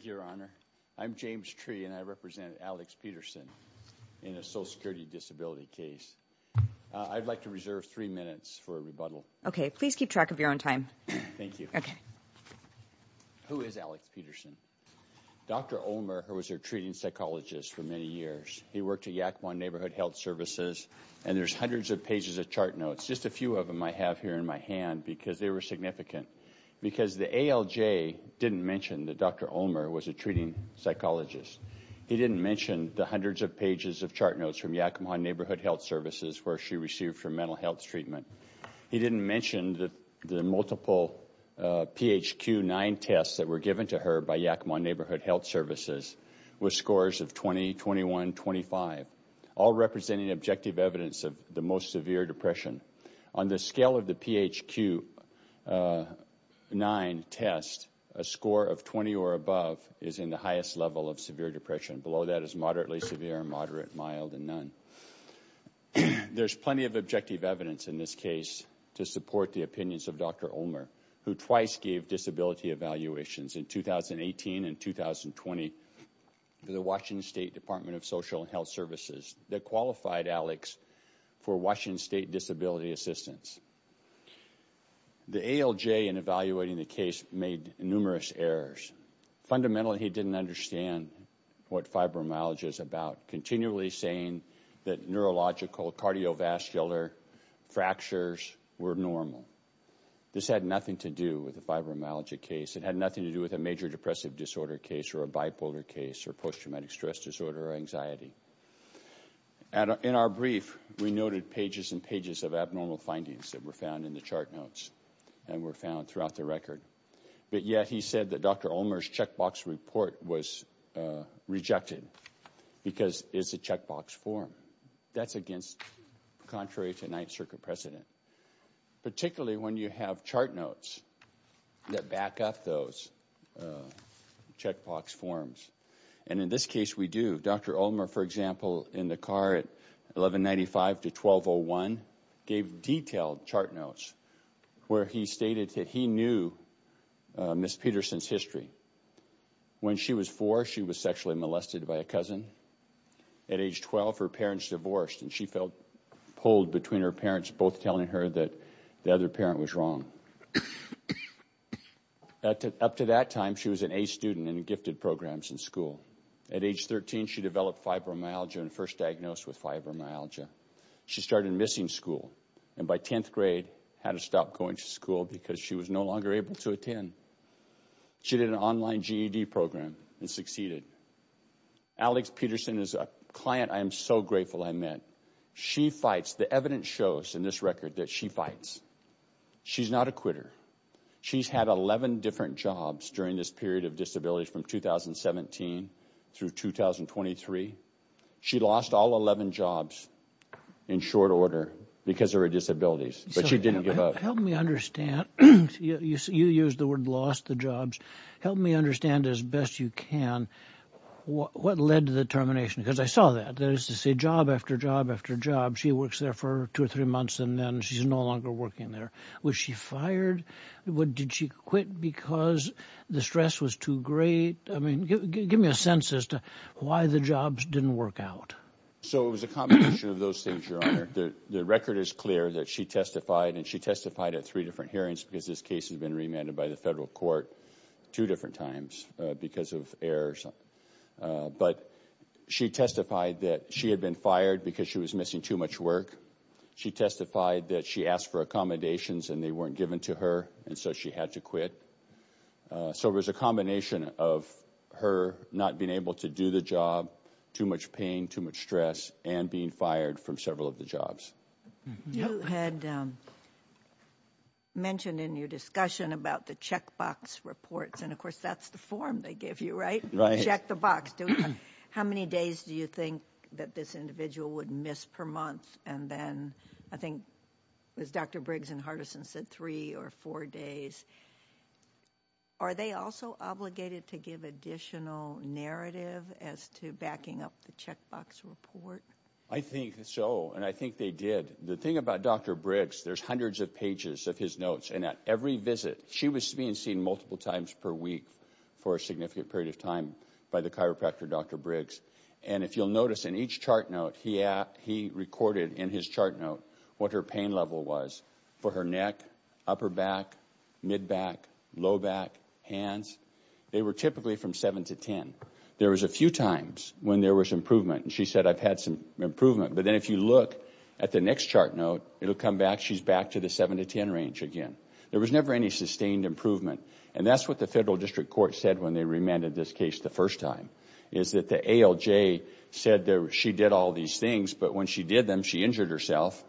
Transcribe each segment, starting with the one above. Your Honor, I'm James Tree and I represent Alex Peterson in a social security disability case. I'd like to reserve three minutes for a rebuttal. Okay, please keep track of your own time. Thank you. Okay. Who is Alex Peterson? Dr. Ulmer was a treating psychologist for many years. He worked at Yakima Neighborhood Health Services and there's hundreds of pages of chart notes. Just a few of them I have here in my hand because they were significant. Because the ALJ didn't mention that Dr. Ulmer was a treating psychologist. He didn't mention the hundreds of pages of chart notes from Yakima Neighborhood Health Services where she received her mental health treatment. He didn't mention that the multiple PHQ-9 tests that were given to her by Yakima Neighborhood Health Services with scores of 20, 21, 25, all representing objective evidence of the most severe depression. On the scale of the PHQ-9 test, a score of 20 or above is in the highest level of severe depression. Below that is moderately severe, moderate, mild, and none. There's plenty of objective evidence in this case to support the opinions of Dr. Ulmer who twice gave disability evaluations in 2018 and 2020 to the Washington State Department of Social Health Services that qualified Alex for Washington State disability assistance. The ALJ, in evaluating the case, made numerous errors. Fundamentally, he didn't understand what fibromyalgia is about, continually saying that neurological, cardiovascular fractures were normal. This had nothing to do with the fibromyalgia case. It had nothing to do with a major depressive disorder case or a bipolar case or post-traumatic stress disorder or anxiety. In our brief, we noted pages and pages of abnormal findings that were found in the chart notes and were found throughout the record, but yet he said that Dr. Ulmer's checkbox report was rejected because it's a checkbox form. That's against, contrary to Ninth Circuit precedent, particularly when you have chart notes that back up those checkbox forms. And in this case, we do. Dr. Ulmer, for example, in the car at 1195 to 1201, gave detailed chart notes where he stated that he knew Ms. Peterson's history. When she was four, she was sexually molested by a cousin. At age 12, her parents divorced and she felt pulled between her parents, both telling her that the other parent was wrong. Up to that time, she was an A student in gifted programs in school. At age 13, she developed fibromyalgia and first diagnosed with fibromyalgia. She started missing school and by 10th grade, had to stop going to school because she was no longer able to attend. She did an online GED program and succeeded. Alex Peterson is a client I am so grateful I met. She fights, the evidence shows in this record that she fights. She's not a quitter. She's had 11 different jobs during this period of disability from 2017 through 2023. She lost all 11 jobs in short order because of her disabilities, but she didn't give up. Help me understand. You used the word lost the jobs. Help me understand as best you can what led to the termination because I saw that. That is to say job after job after job. She works there for two or three months and then she's no longer working there. Was she fired? Did she quit because the stress was too great? I mean, give me a sense as to why the jobs didn't work out. So it was a combination of those things, Your Honor. The record is clear that she testified and she testified at three different hearings because this case has been remanded by the federal court two different times because of errors. But she testified that she had been fired because she was missing too much work. She testified that she asked for accommodations and they weren't given to her and so she had to quit. So it was a combination of her not being able to do the job, too much pain, too much stress, and being fired from several of the jobs. You had mentioned in your discussion about the checkbox reports and of course that's the form they give you, right? Check the box. How many days do you think that this individual would miss per month and then I think as Dr. Briggs and Hardison said three or four days. Are they also obligated to give additional narrative as to backing up the checkbox report? I think so and I think they did. The thing about Dr. Briggs, there's hundreds of pages of his notes and at every visit she was being seen multiple times per week for a significant period of time by the chiropractor Dr. Briggs. And if you'll notice in each chart note he recorded in his chart note what her pain level was for her neck, upper back, mid-back, low back, hands. They were typically from seven to ten. There was a few times when there was improvement and she said I've had some improvement but then if you look at the next chart note it'll come back she's back to the seven to ten range again. There was never any sustained improvement and that's what the federal district court said when they remanded this case the first time is that the ALJ said that she did all these things but when she did them she injured herself.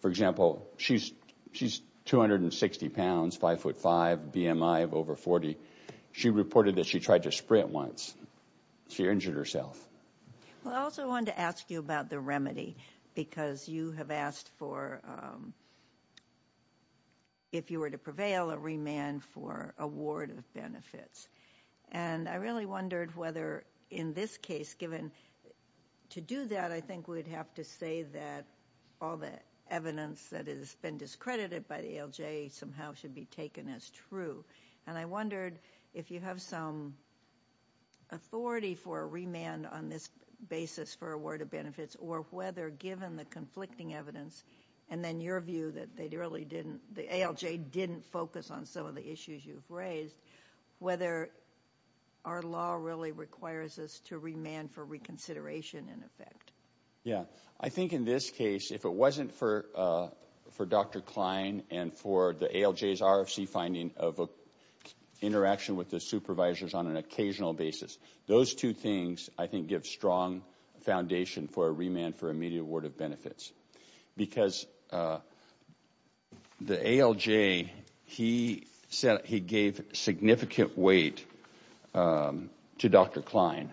For example, she's 260 pounds, five foot five, BMI of over 40. She reported that she tried to sprint once. She injured herself. Well I also wanted to ask you about the remedy because you have asked for if you were to prevail a remand for award of benefits and I really wondered whether in this case given to do that I think we'd have to say that all the evidence that has been discredited by the ALJ somehow should be taken as true and I wondered if you have some authority for a remand on this basis for a word of benefits or whether given the conflicting evidence and then your view that they really didn't the ALJ didn't focus on some of the issues you've raised whether our law really requires us to remand for reconsideration in effect. Yeah I think in this case if it wasn't for for Dr. Klein and for the ALJ's RFC finding of a interaction with the supervisors on an occasional basis. Those two things I think give strong foundation for a remand for immediate award of benefits because the ALJ he said he gave significant weight to Dr. Klein.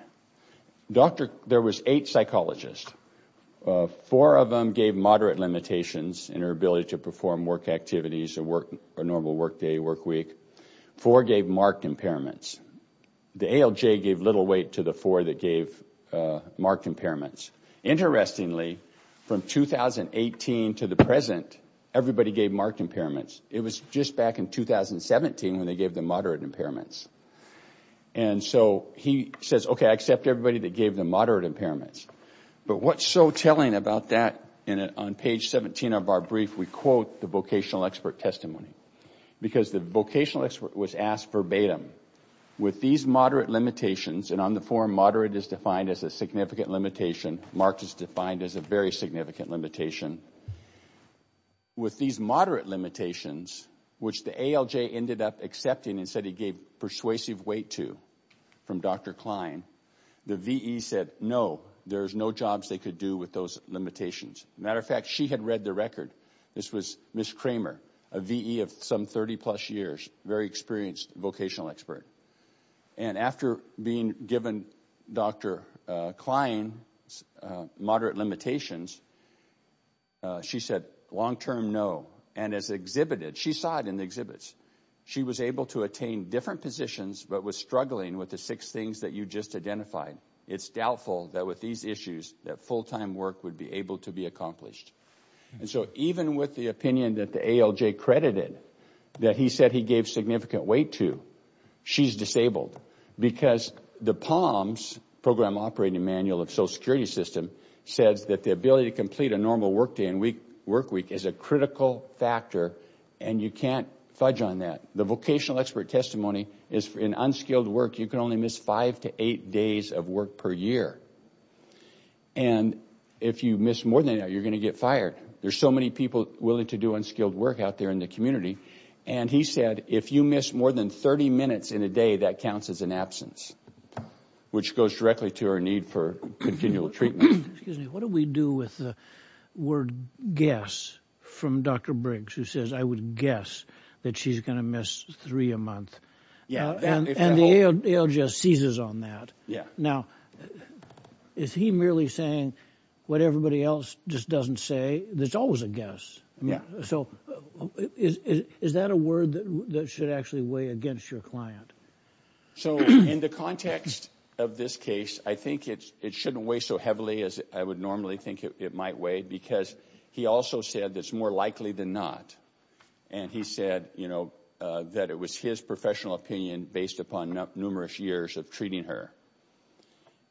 There was eight psychologists. Four of them gave moderate limitations in her ability to perform work activities or work or normal work day work week. Four gave marked impairments. The ALJ gave little weight to the four that gave marked impairments. Interestingly from 2018 to the present everybody gave marked impairments. It was just back in 2017 when they gave the moderate impairments and so he says okay I accept everybody that gave the moderate impairments but what's so telling about that on page 17 of our brief we quote the vocational expert testimony because the vocational expert was asked verbatim with these moderate limitations and on the form moderate is defined as a significant limitation marked is defined as a very significant limitation with these moderate limitations which the ALJ ended up accepting and said he gave persuasive weight to from Dr. Klein. The VE said no there's no jobs they could do with those limitations. Matter of fact she had read the record this was Ms. Kramer a VE of some 30 plus years very experienced vocational expert and after being given Dr. Klein's moderate limitations she said long-term no and as exhibited she saw it in the exhibits she was able to attain different positions but was struggling with the six things that you just identified. It's doubtful that with these issues that full-time work would be able to be accomplished and so even with the opinion that the ALJ credited that he said he gave significant weight to she's disabled because the POMS program operating manual of social security system says that the ability to complete a normal work day and week work week is a critical factor and you can't fudge on that. The vocational expert testimony is for an unskilled work you can only miss five to eight days of work per year and if you miss more than that you're going to get fired. There's so many people willing to do unskilled work out there in the community and he said if you miss more than 30 minutes in a day that counts as an absence which goes directly to her need for continual treatment. Excuse me what do we do with the word guess from Dr. Briggs who says I would guess that she's going to miss three a month and the ALJ seizes on that. Now is he merely saying what everybody else just doesn't say there's always a guess. So is that a word that should actually weigh against your client? So in the context of this case I think it's it shouldn't weigh so heavily as I would normally think it might weigh because he also said that's more likely than not and he said you know that it was his professional opinion based upon numerous years of treating her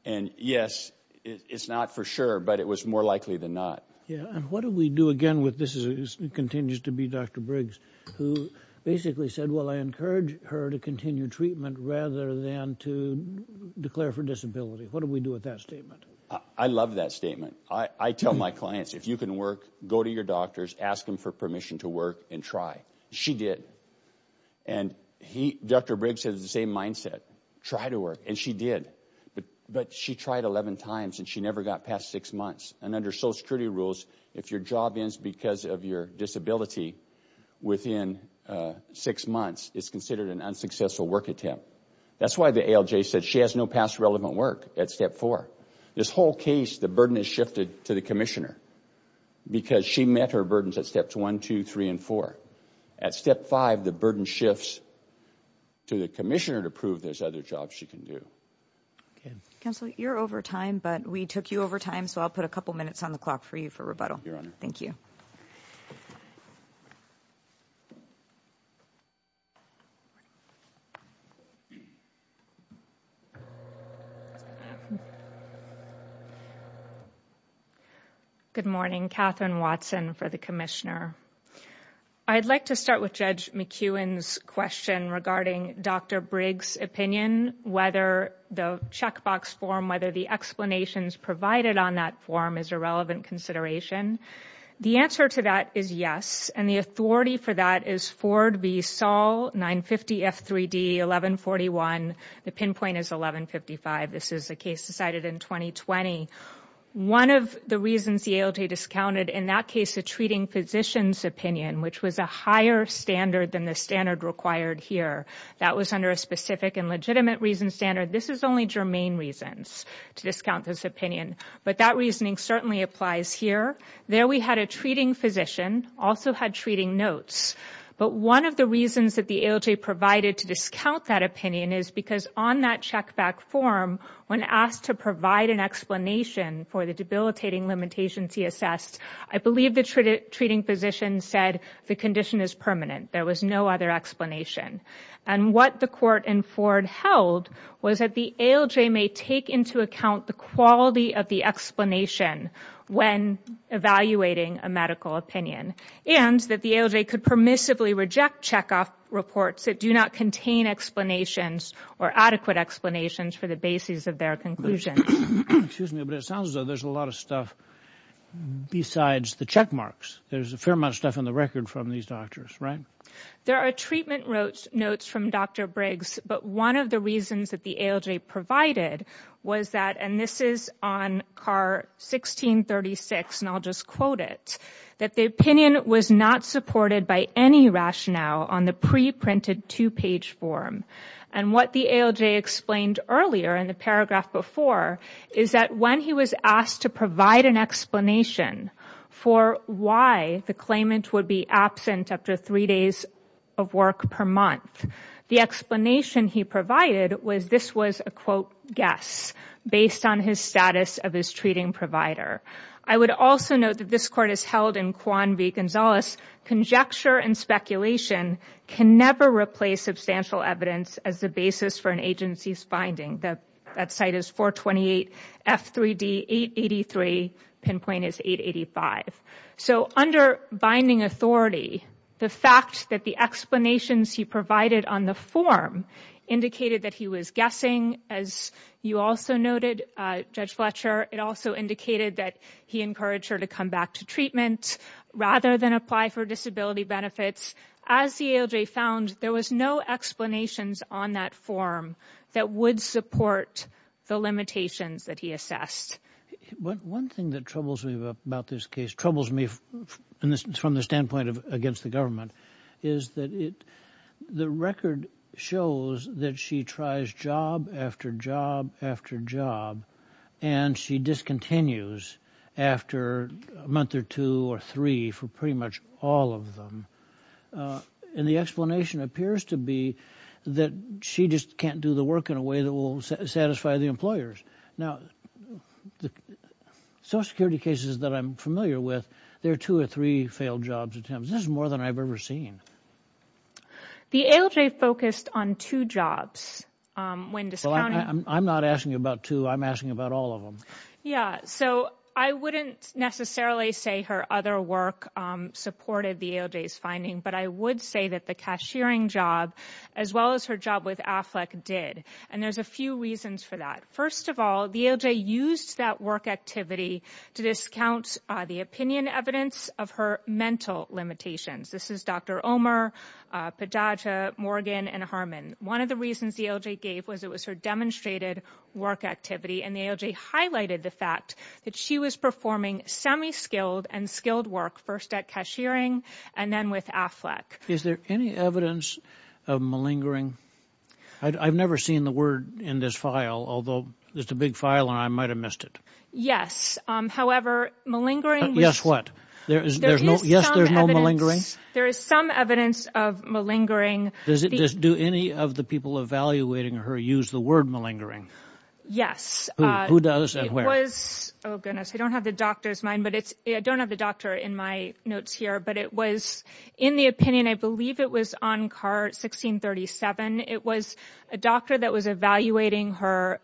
and yes it's not for sure but it was more likely than not. Yeah and what do we do again with this is continues to be Dr. Briggs who basically said well I encourage her to continue treatment rather than to declare for disability. What do we do with that statement? I love that statement. I tell my clients if you can work go to your doctors ask them for permission to work and try. She did and he Dr. Briggs has the same mindset try to work and she did but but she tried 11 times and she never got past six months and under social security rules if your job ends because of your disability within six months it's considered an unsuccessful work attempt. That's why the ALJ said she has no past relevant work at step four. This whole case the burden is shifted to the commissioner because she met her burdens at steps one two three and four. At step five the burden shifts to the commissioner to prove there's other jobs she can do. Counselor you're over time but we took you over time so I'll put a couple minutes on the clock for you for rebuttal. Your honor. Thank you. Good morning Katherine Watson for the commissioner. I'd like to start with Judge McEwen's question regarding Dr. Briggs opinion whether the checkbox form whether the explanations provided on that form is a relevant consideration. The answer to that is yes and the authority for that is Ford v Saul 950 F3D 1141. The pinpoint is 1155. This is a case decided in 2020. One of the reasons the ALJ discounted in that case the treating physician's opinion which was a higher standard than the standard required here. That was under a specific and legitimate reason this is only germane reasons to discount this opinion but that reasoning certainly applies here. There we had a treating physician also had treating notes but one of the reasons that the ALJ provided to discount that opinion is because on that check back form when asked to provide an explanation for the debilitating limitations he assessed. I believe the treating physician said the condition is permanent. There was no other explanation and what the court and Ford held was that the ALJ may take into account the quality of the explanation when evaluating a medical opinion and that the ALJ could permissively reject checkoff reports that do not contain explanations or adequate explanations for the basis of their conclusions. Excuse me but it sounds as though there's a lot of stuff besides the check marks. There's a fair amount of stuff on the record from these doctors right? There are treatment notes from Dr. Briggs but one of the reasons that the ALJ provided was that and this is on car 1636 and I'll just quote it that the opinion was not supported by any rationale on the pre-printed two-page form and what the ALJ explained earlier in the paragraph before is that when he was asked to provide an explanation for why the claimant would be absent after three days of work per month the explanation he provided was this was a quote guess based on his status of his treating provider. I would also note that this court is held in Kwan v. Gonzalez. Conjecture and speculation can never replace substantial evidence as the basis for an agency's finding that that site is 428 F3D 883 pinpoint is 885. So under binding authority the fact that the explanations he provided on the form indicated that he was guessing as you also noted Judge Fletcher it also indicated that he encouraged her to come back to treatment rather than apply for disability benefits. As the ALJ found there was no explanations on that form that would support the limitations that he assessed. One thing that troubles me about this case troubles me from the standpoint of against the government is that it the record shows that she tries job after job after job and she discontinues after a month or two or three for pretty much all of them and the explanation appears to be that she just can't do the work in a way that will satisfy the employers. Now the social security cases that I'm familiar with there are two or three failed jobs attempts. This is more than I've ever seen. The ALJ focused on two jobs. I'm not asking about two I'm asking about all of them. Yeah so I wouldn't necessarily say her other work supported the ALJ's finding but I would say that the cashiering job as well as her job with AFLEC did and there's a few reasons for that. First of all the ALJ used that work activity to discount the opinion evidence of her mental limitations. This is Dr. Omer, Pajaja, Morgan and Harmon. One of the reasons the ALJ gave was it was her demonstrated work activity and the ALJ highlighted the fact that she was performing semi-skilled and skilled work first at cashiering and then with AFLEC. Is there any evidence of malingering? I've never seen the word in this file although it's a big file and I might have missed it. Yes however malingering. Yes what? There is no yes there's no malingering? There is some evidence of malingering. Does it just do any of the people evaluating her use the word malingering? Yes. Who does and where? It was oh goodness I don't have the doctor's mind but it's I don't have the doctor in my notes here but it was in the opinion I believe it was on car 1637. It was a doctor that was evaluating her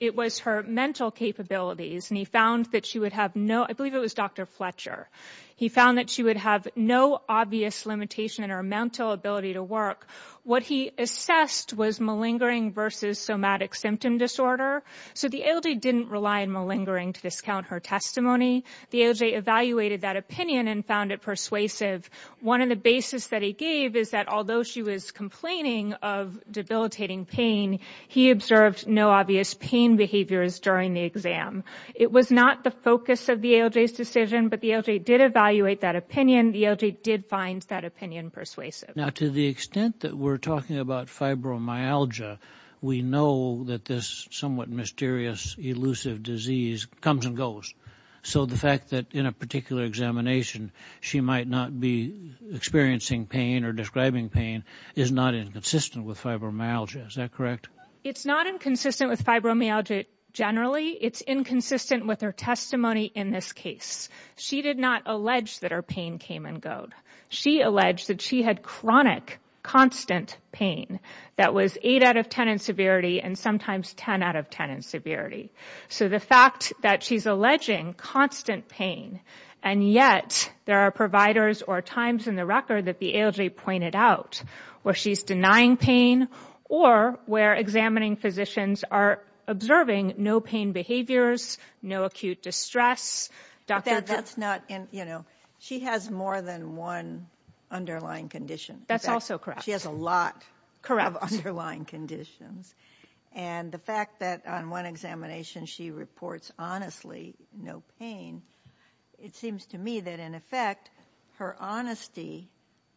it was her mental capabilities and he found that she would have no I believe it was Dr. Fletcher. He found that she would have no obvious limitation in her mental ability to work. What he assessed was malingering versus somatic symptom disorder. So the ALJ didn't rely on malingering to discount her testimony. The ALJ evaluated that opinion and found it persuasive. One of the basis that he gave is that although she was complaining of debilitating pain he observed no obvious pain behaviors during the exam. It was not the focus of the ALJ's decision but the ALJ did evaluate that opinion. The ALJ did find that opinion persuasive. Now to the extent that we're talking about fibromyalgia we know that this somewhat mysterious elusive disease comes and goes. So the fact that in a particular examination she might not be experiencing pain or describing pain is not inconsistent with fibromyalgia. Is that correct? It's not inconsistent with fibromyalgia generally. It's inconsistent with her testimony in this case. She did not allege that her pain came and go. She alleged that she had chronic constant pain that was 8 out of 10 in severity and sometimes 10 out of 10 in severity. So the fact that she's alleging constant pain and yet there are providers or times in the record that the ALJ pointed out where she's denying pain or where examining physicians are observing no pain behaviors, no acute distress. She has more than one underlying condition. That's also correct. She has a lot of underlying conditions and the fact that on one examination she reports honestly no pain. It seems to me that in effect her honesty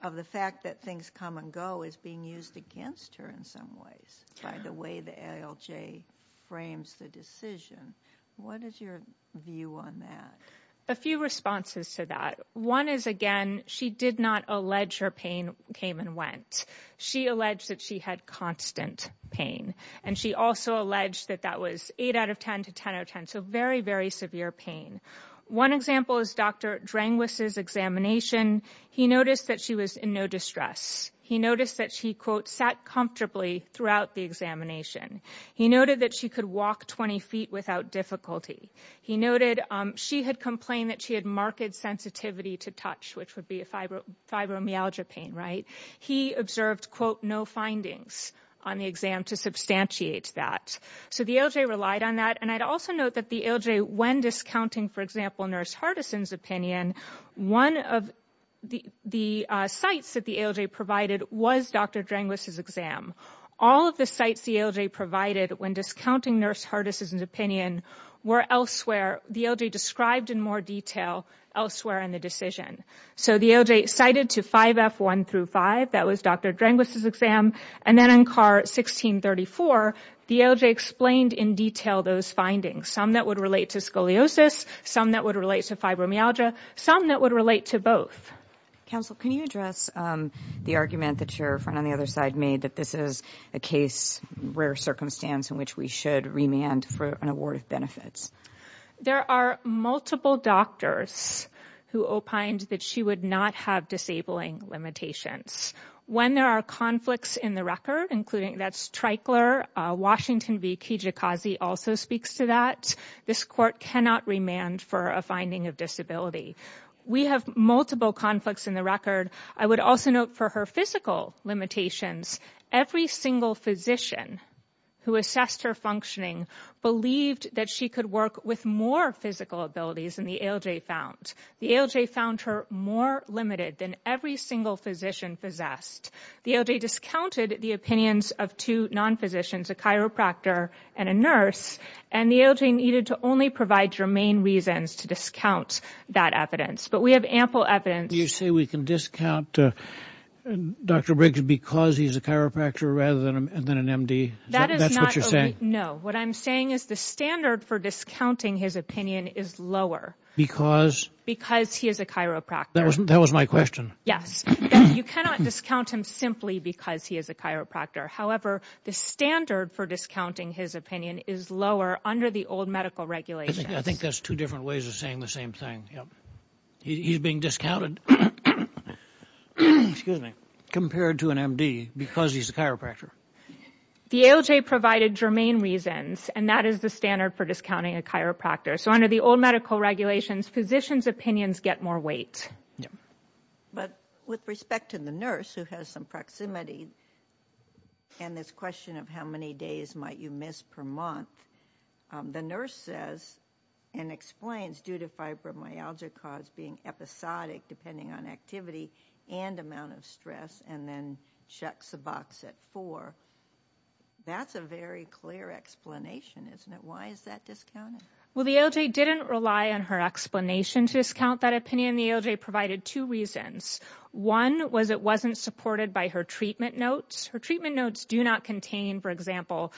of the fact that things come and go is being used against her in some ways by the way the ALJ frames the decision. What is your view on that? A few responses to that. One is again she did not allege her pain came and went. She alleged that she had constant pain and she also alleged that that was 8 out of 10 to 10 so very very severe pain. One example is Dr. Drangwis' examination. He noticed that she was in no distress. He noticed that she quote sat comfortably throughout the examination. He noted that she could walk 20 feet without difficulty. He noted she had complained that she had marked sensitivity to touch which would be a fibromyalgia pain. He observed quote no findings on the exam to substantiate that. So the ALJ relied on that and I'd also note that the ALJ when discounting for example Nurse Hardison's opinion, one of the the sites that the ALJ provided was Dr. Drangwis' exam. All of the sites the ALJ provided when discounting Nurse Hardison's opinion were elsewhere. The ALJ described in more detail elsewhere in the decision. So the ALJ cited to 5F1-5 that was Dr. Drangwis' exam and then in CAR 1634 the ALJ explained in detail those findings. Some that would relate to scoliosis, some that would relate to fibromyalgia, some that would relate to both. Counsel can you address the argument that your friend on the other side made that this is a case rare circumstance in which we should remand for an award of benefits? There are multiple doctors who opined that she would not have disabling limitations. When there are conflicts in the record including that's Tricler, Washington v Kijikazi also speaks to that. This court cannot remand for a finding of disability. We have multiple conflicts in the record. I would also note for her physical limitations every single physician who assessed her functioning believed that she could work with more physical abilities than the ALJ found. The ALJ found her more limited than every single physician possessed. The ALJ discounted the opinions of two non-physicians, a chiropractor and a nurse and the ALJ needed to only provide germane reasons to discount that evidence. But we have ample evidence. You say we can discount Dr. Briggs because he's a chiropractor rather than an MD? That's what you're saying? No, what I'm saying is the standard for discounting his opinion is lower. Because? Because he is a chiropractor. That was my question. Yes, you cannot discount him simply because he is a chiropractor. However, the standard for discounting his opinion is lower under the old medical regulations. I think that's two different ways of saying the same thing. He's being discounted compared to an MD because he's a chiropractor. The ALJ provided germane reasons and that is the standard for discounting a chiropractor. So under the old medical regulations, physicians' opinions get more weight. But with respect to the nurse who has some proximity and this question of how many days might you miss per month, the nurse says and explains due to fibromyalgia cause being episodic depending on activity and amount of stress and then checks the box at four. That's a very clear explanation, isn't it? Why is that discounted? Well, the ALJ didn't rely on her explanation to discount that opinion. The ALJ provided two reasons. One was it wasn't supported by her treatment notes. Her treatment notes do not contain, for example,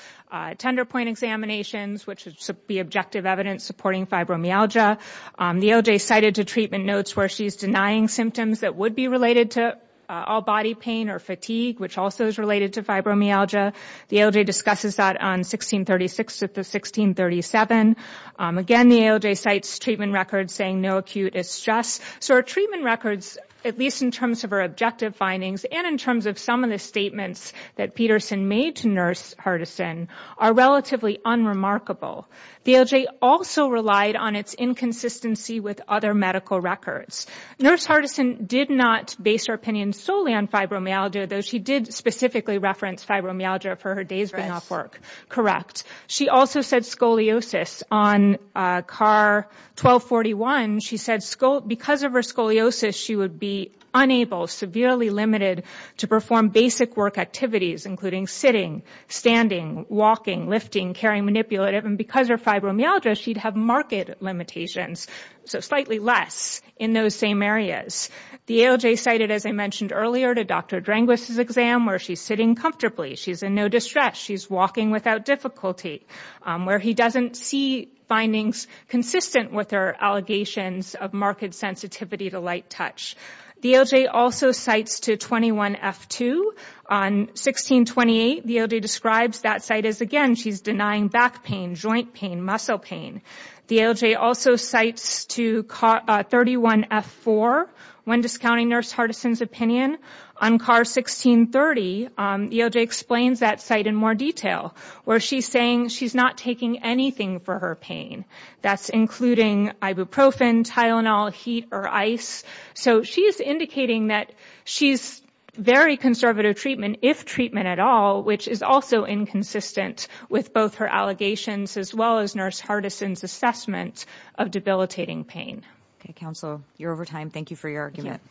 tender point examinations, which would be objective evidence supporting fibromyalgia. The ALJ cited to treatment notes where she's denying symptoms that would be related to all body pain or fatigue, which also is related to fibromyalgia. The ALJ discusses that on 1636 to 1637. Again, the ALJ cites treatment records saying no acute distress. So her treatment records, at least in terms of her objective findings and in terms of some of the statements that Peterson made to Nurse Hardison, are relatively unremarkable. The ALJ also relied on its inconsistency with other medical records. Nurse Hardison did not base her opinion solely on fibromyalgia, though she did specifically reference fibromyalgia for her days being off work. Correct. She also said scoliosis on CAR 1241. She said because of her scoliosis, she would be unable, severely limited, to perform basic work activities, including sitting, standing, walking, lifting, carrying manipulative, and because of fibromyalgia, she'd have marked limitations, so slightly less in those same areas. The ALJ cited, as I mentioned earlier, to Dr. Drangwist's exam where she's sitting comfortably. She's in no distress. She's walking without difficulty, where he doesn't see findings consistent with her allegations of marked sensitivity to light touch. The ALJ also cites to 21F2. On 1628, the ALJ describes that site as, again, she's denying back pain, joint pain, muscle pain. The ALJ also cites to 31F4, when discounting Nurse Hardison's On CAR 1630, the ALJ explains that site in more detail, where she's saying she's not taking anything for her pain. That's including ibuprofen, Tylenol, heat, or ice. So she's indicating that she's very conservative treatment, if treatment at all, which is also inconsistent with both her allegations, as well as Nurse Hardison's assessment of debilitating pain. Okay, counsel, you're over time. Thank you for your argument.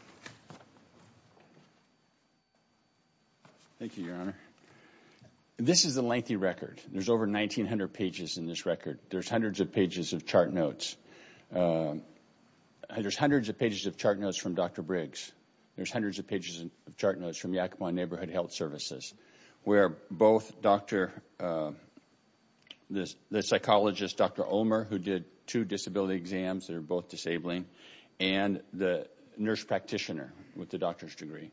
Thank you, Your Honor. This is a lengthy record. There's over 1,900 pages in this record. There's hundreds of pages of chart notes. There's hundreds of pages of chart notes from Dr. Briggs. There's hundreds of pages of chart notes from Yakima Neighborhood Health Services, where both the psychologist, Dr. Omer, who did two disability exams that are both disabling, and the nurse practitioner with the doctor's degree,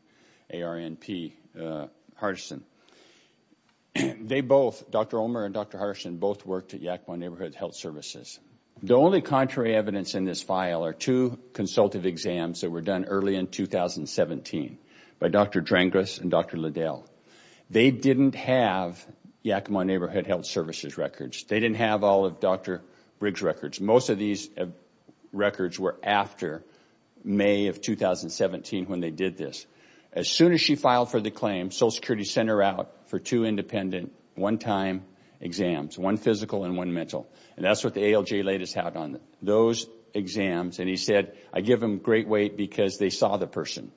ARNP, Hardison. They both, Dr. Omer and Dr. Hardison, both worked at Yakima Neighborhood Health Services. The only contrary evidence in this file are two consultative exams that were done early in 2017 by Dr. Drangas and Dr. Liddell. They didn't have Yakima Neighborhood Health Services records. They didn't have all of Dr. Briggs' records. Most of these records were after May of 2017 when they did this. As soon as she filed for the claim, Social Security sent her out for two independent one-time exams, one physical and one mental. That's what the ALJ latest had on those exams. He said, I give them great weight because they saw the person.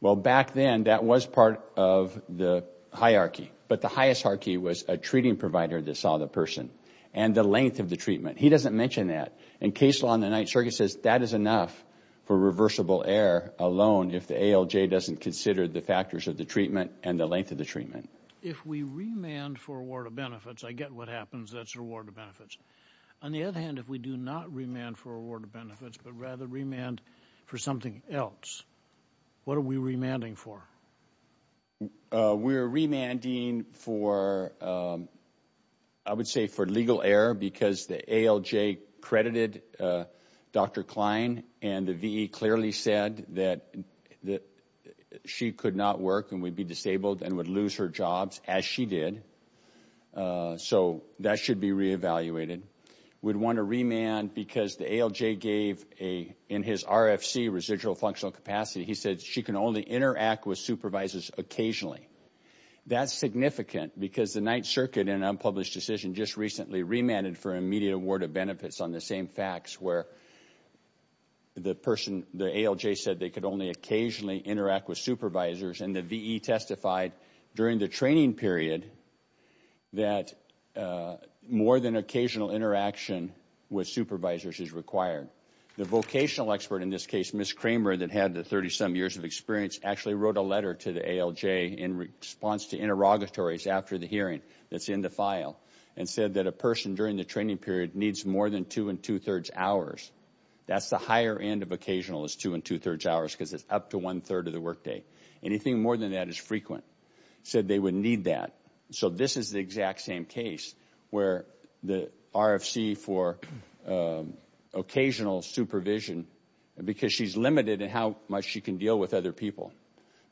Well, back then, that was part of the hierarchy, but the highest hierarchy was a provider that saw the person and the length of the treatment. He doesn't mention that. In case law in the Ninth Circuit, it says that is enough for reversible error alone if the ALJ doesn't consider the factors of the treatment and the length of the treatment. If we remand for a ward of benefits, I get what happens. That's a ward of benefits. On the other hand, if we do not remand for a ward of benefits, but rather remand for something else, what are we remanding for? We're remanding for, I would say, for legal error because the ALJ credited Dr. Klein and the V.E. clearly said that she could not work and would be disabled and would lose her jobs as she did. So that should be re-evaluated. We'd want to remand because the ALJ gave in his RFC, residual functional capacity, he said she can only interact with supervisors occasionally. That's significant because the Ninth Circuit in an unpublished decision just recently remanded for immediate ward of benefits on the same facts where the person, the ALJ said they could only occasionally interact with supervisors and the V.E. testified during the training period that more than occasional interaction with supervisors is required. The vocational expert in this case, Ms. Kramer, that had the 30-some years of experience, actually wrote a letter to the ALJ in response to interrogatories after the hearing that's in the file and said that a person during the training period needs more than two and two-thirds hours. That's the higher end of occasional is two and two-thirds hours because it's up to one-third of the workday. Anything more than that is frequent. Said they would need that. So this is the exact same case where the RFC for occasional supervision because she's limited in how much she can deal with other people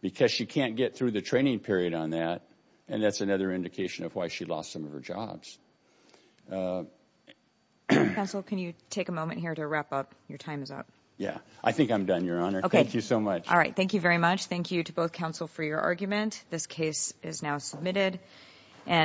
because she can't get through the training period on that and that's another indication of why she lost some of her jobs. Counsel, can you take a moment here to wrap up? Your time is up. Yeah, I think I'm done, Your Honor. Thank you so much. All right. Thank you very much. Thank you to both counsel for your argument. This case is now submitted.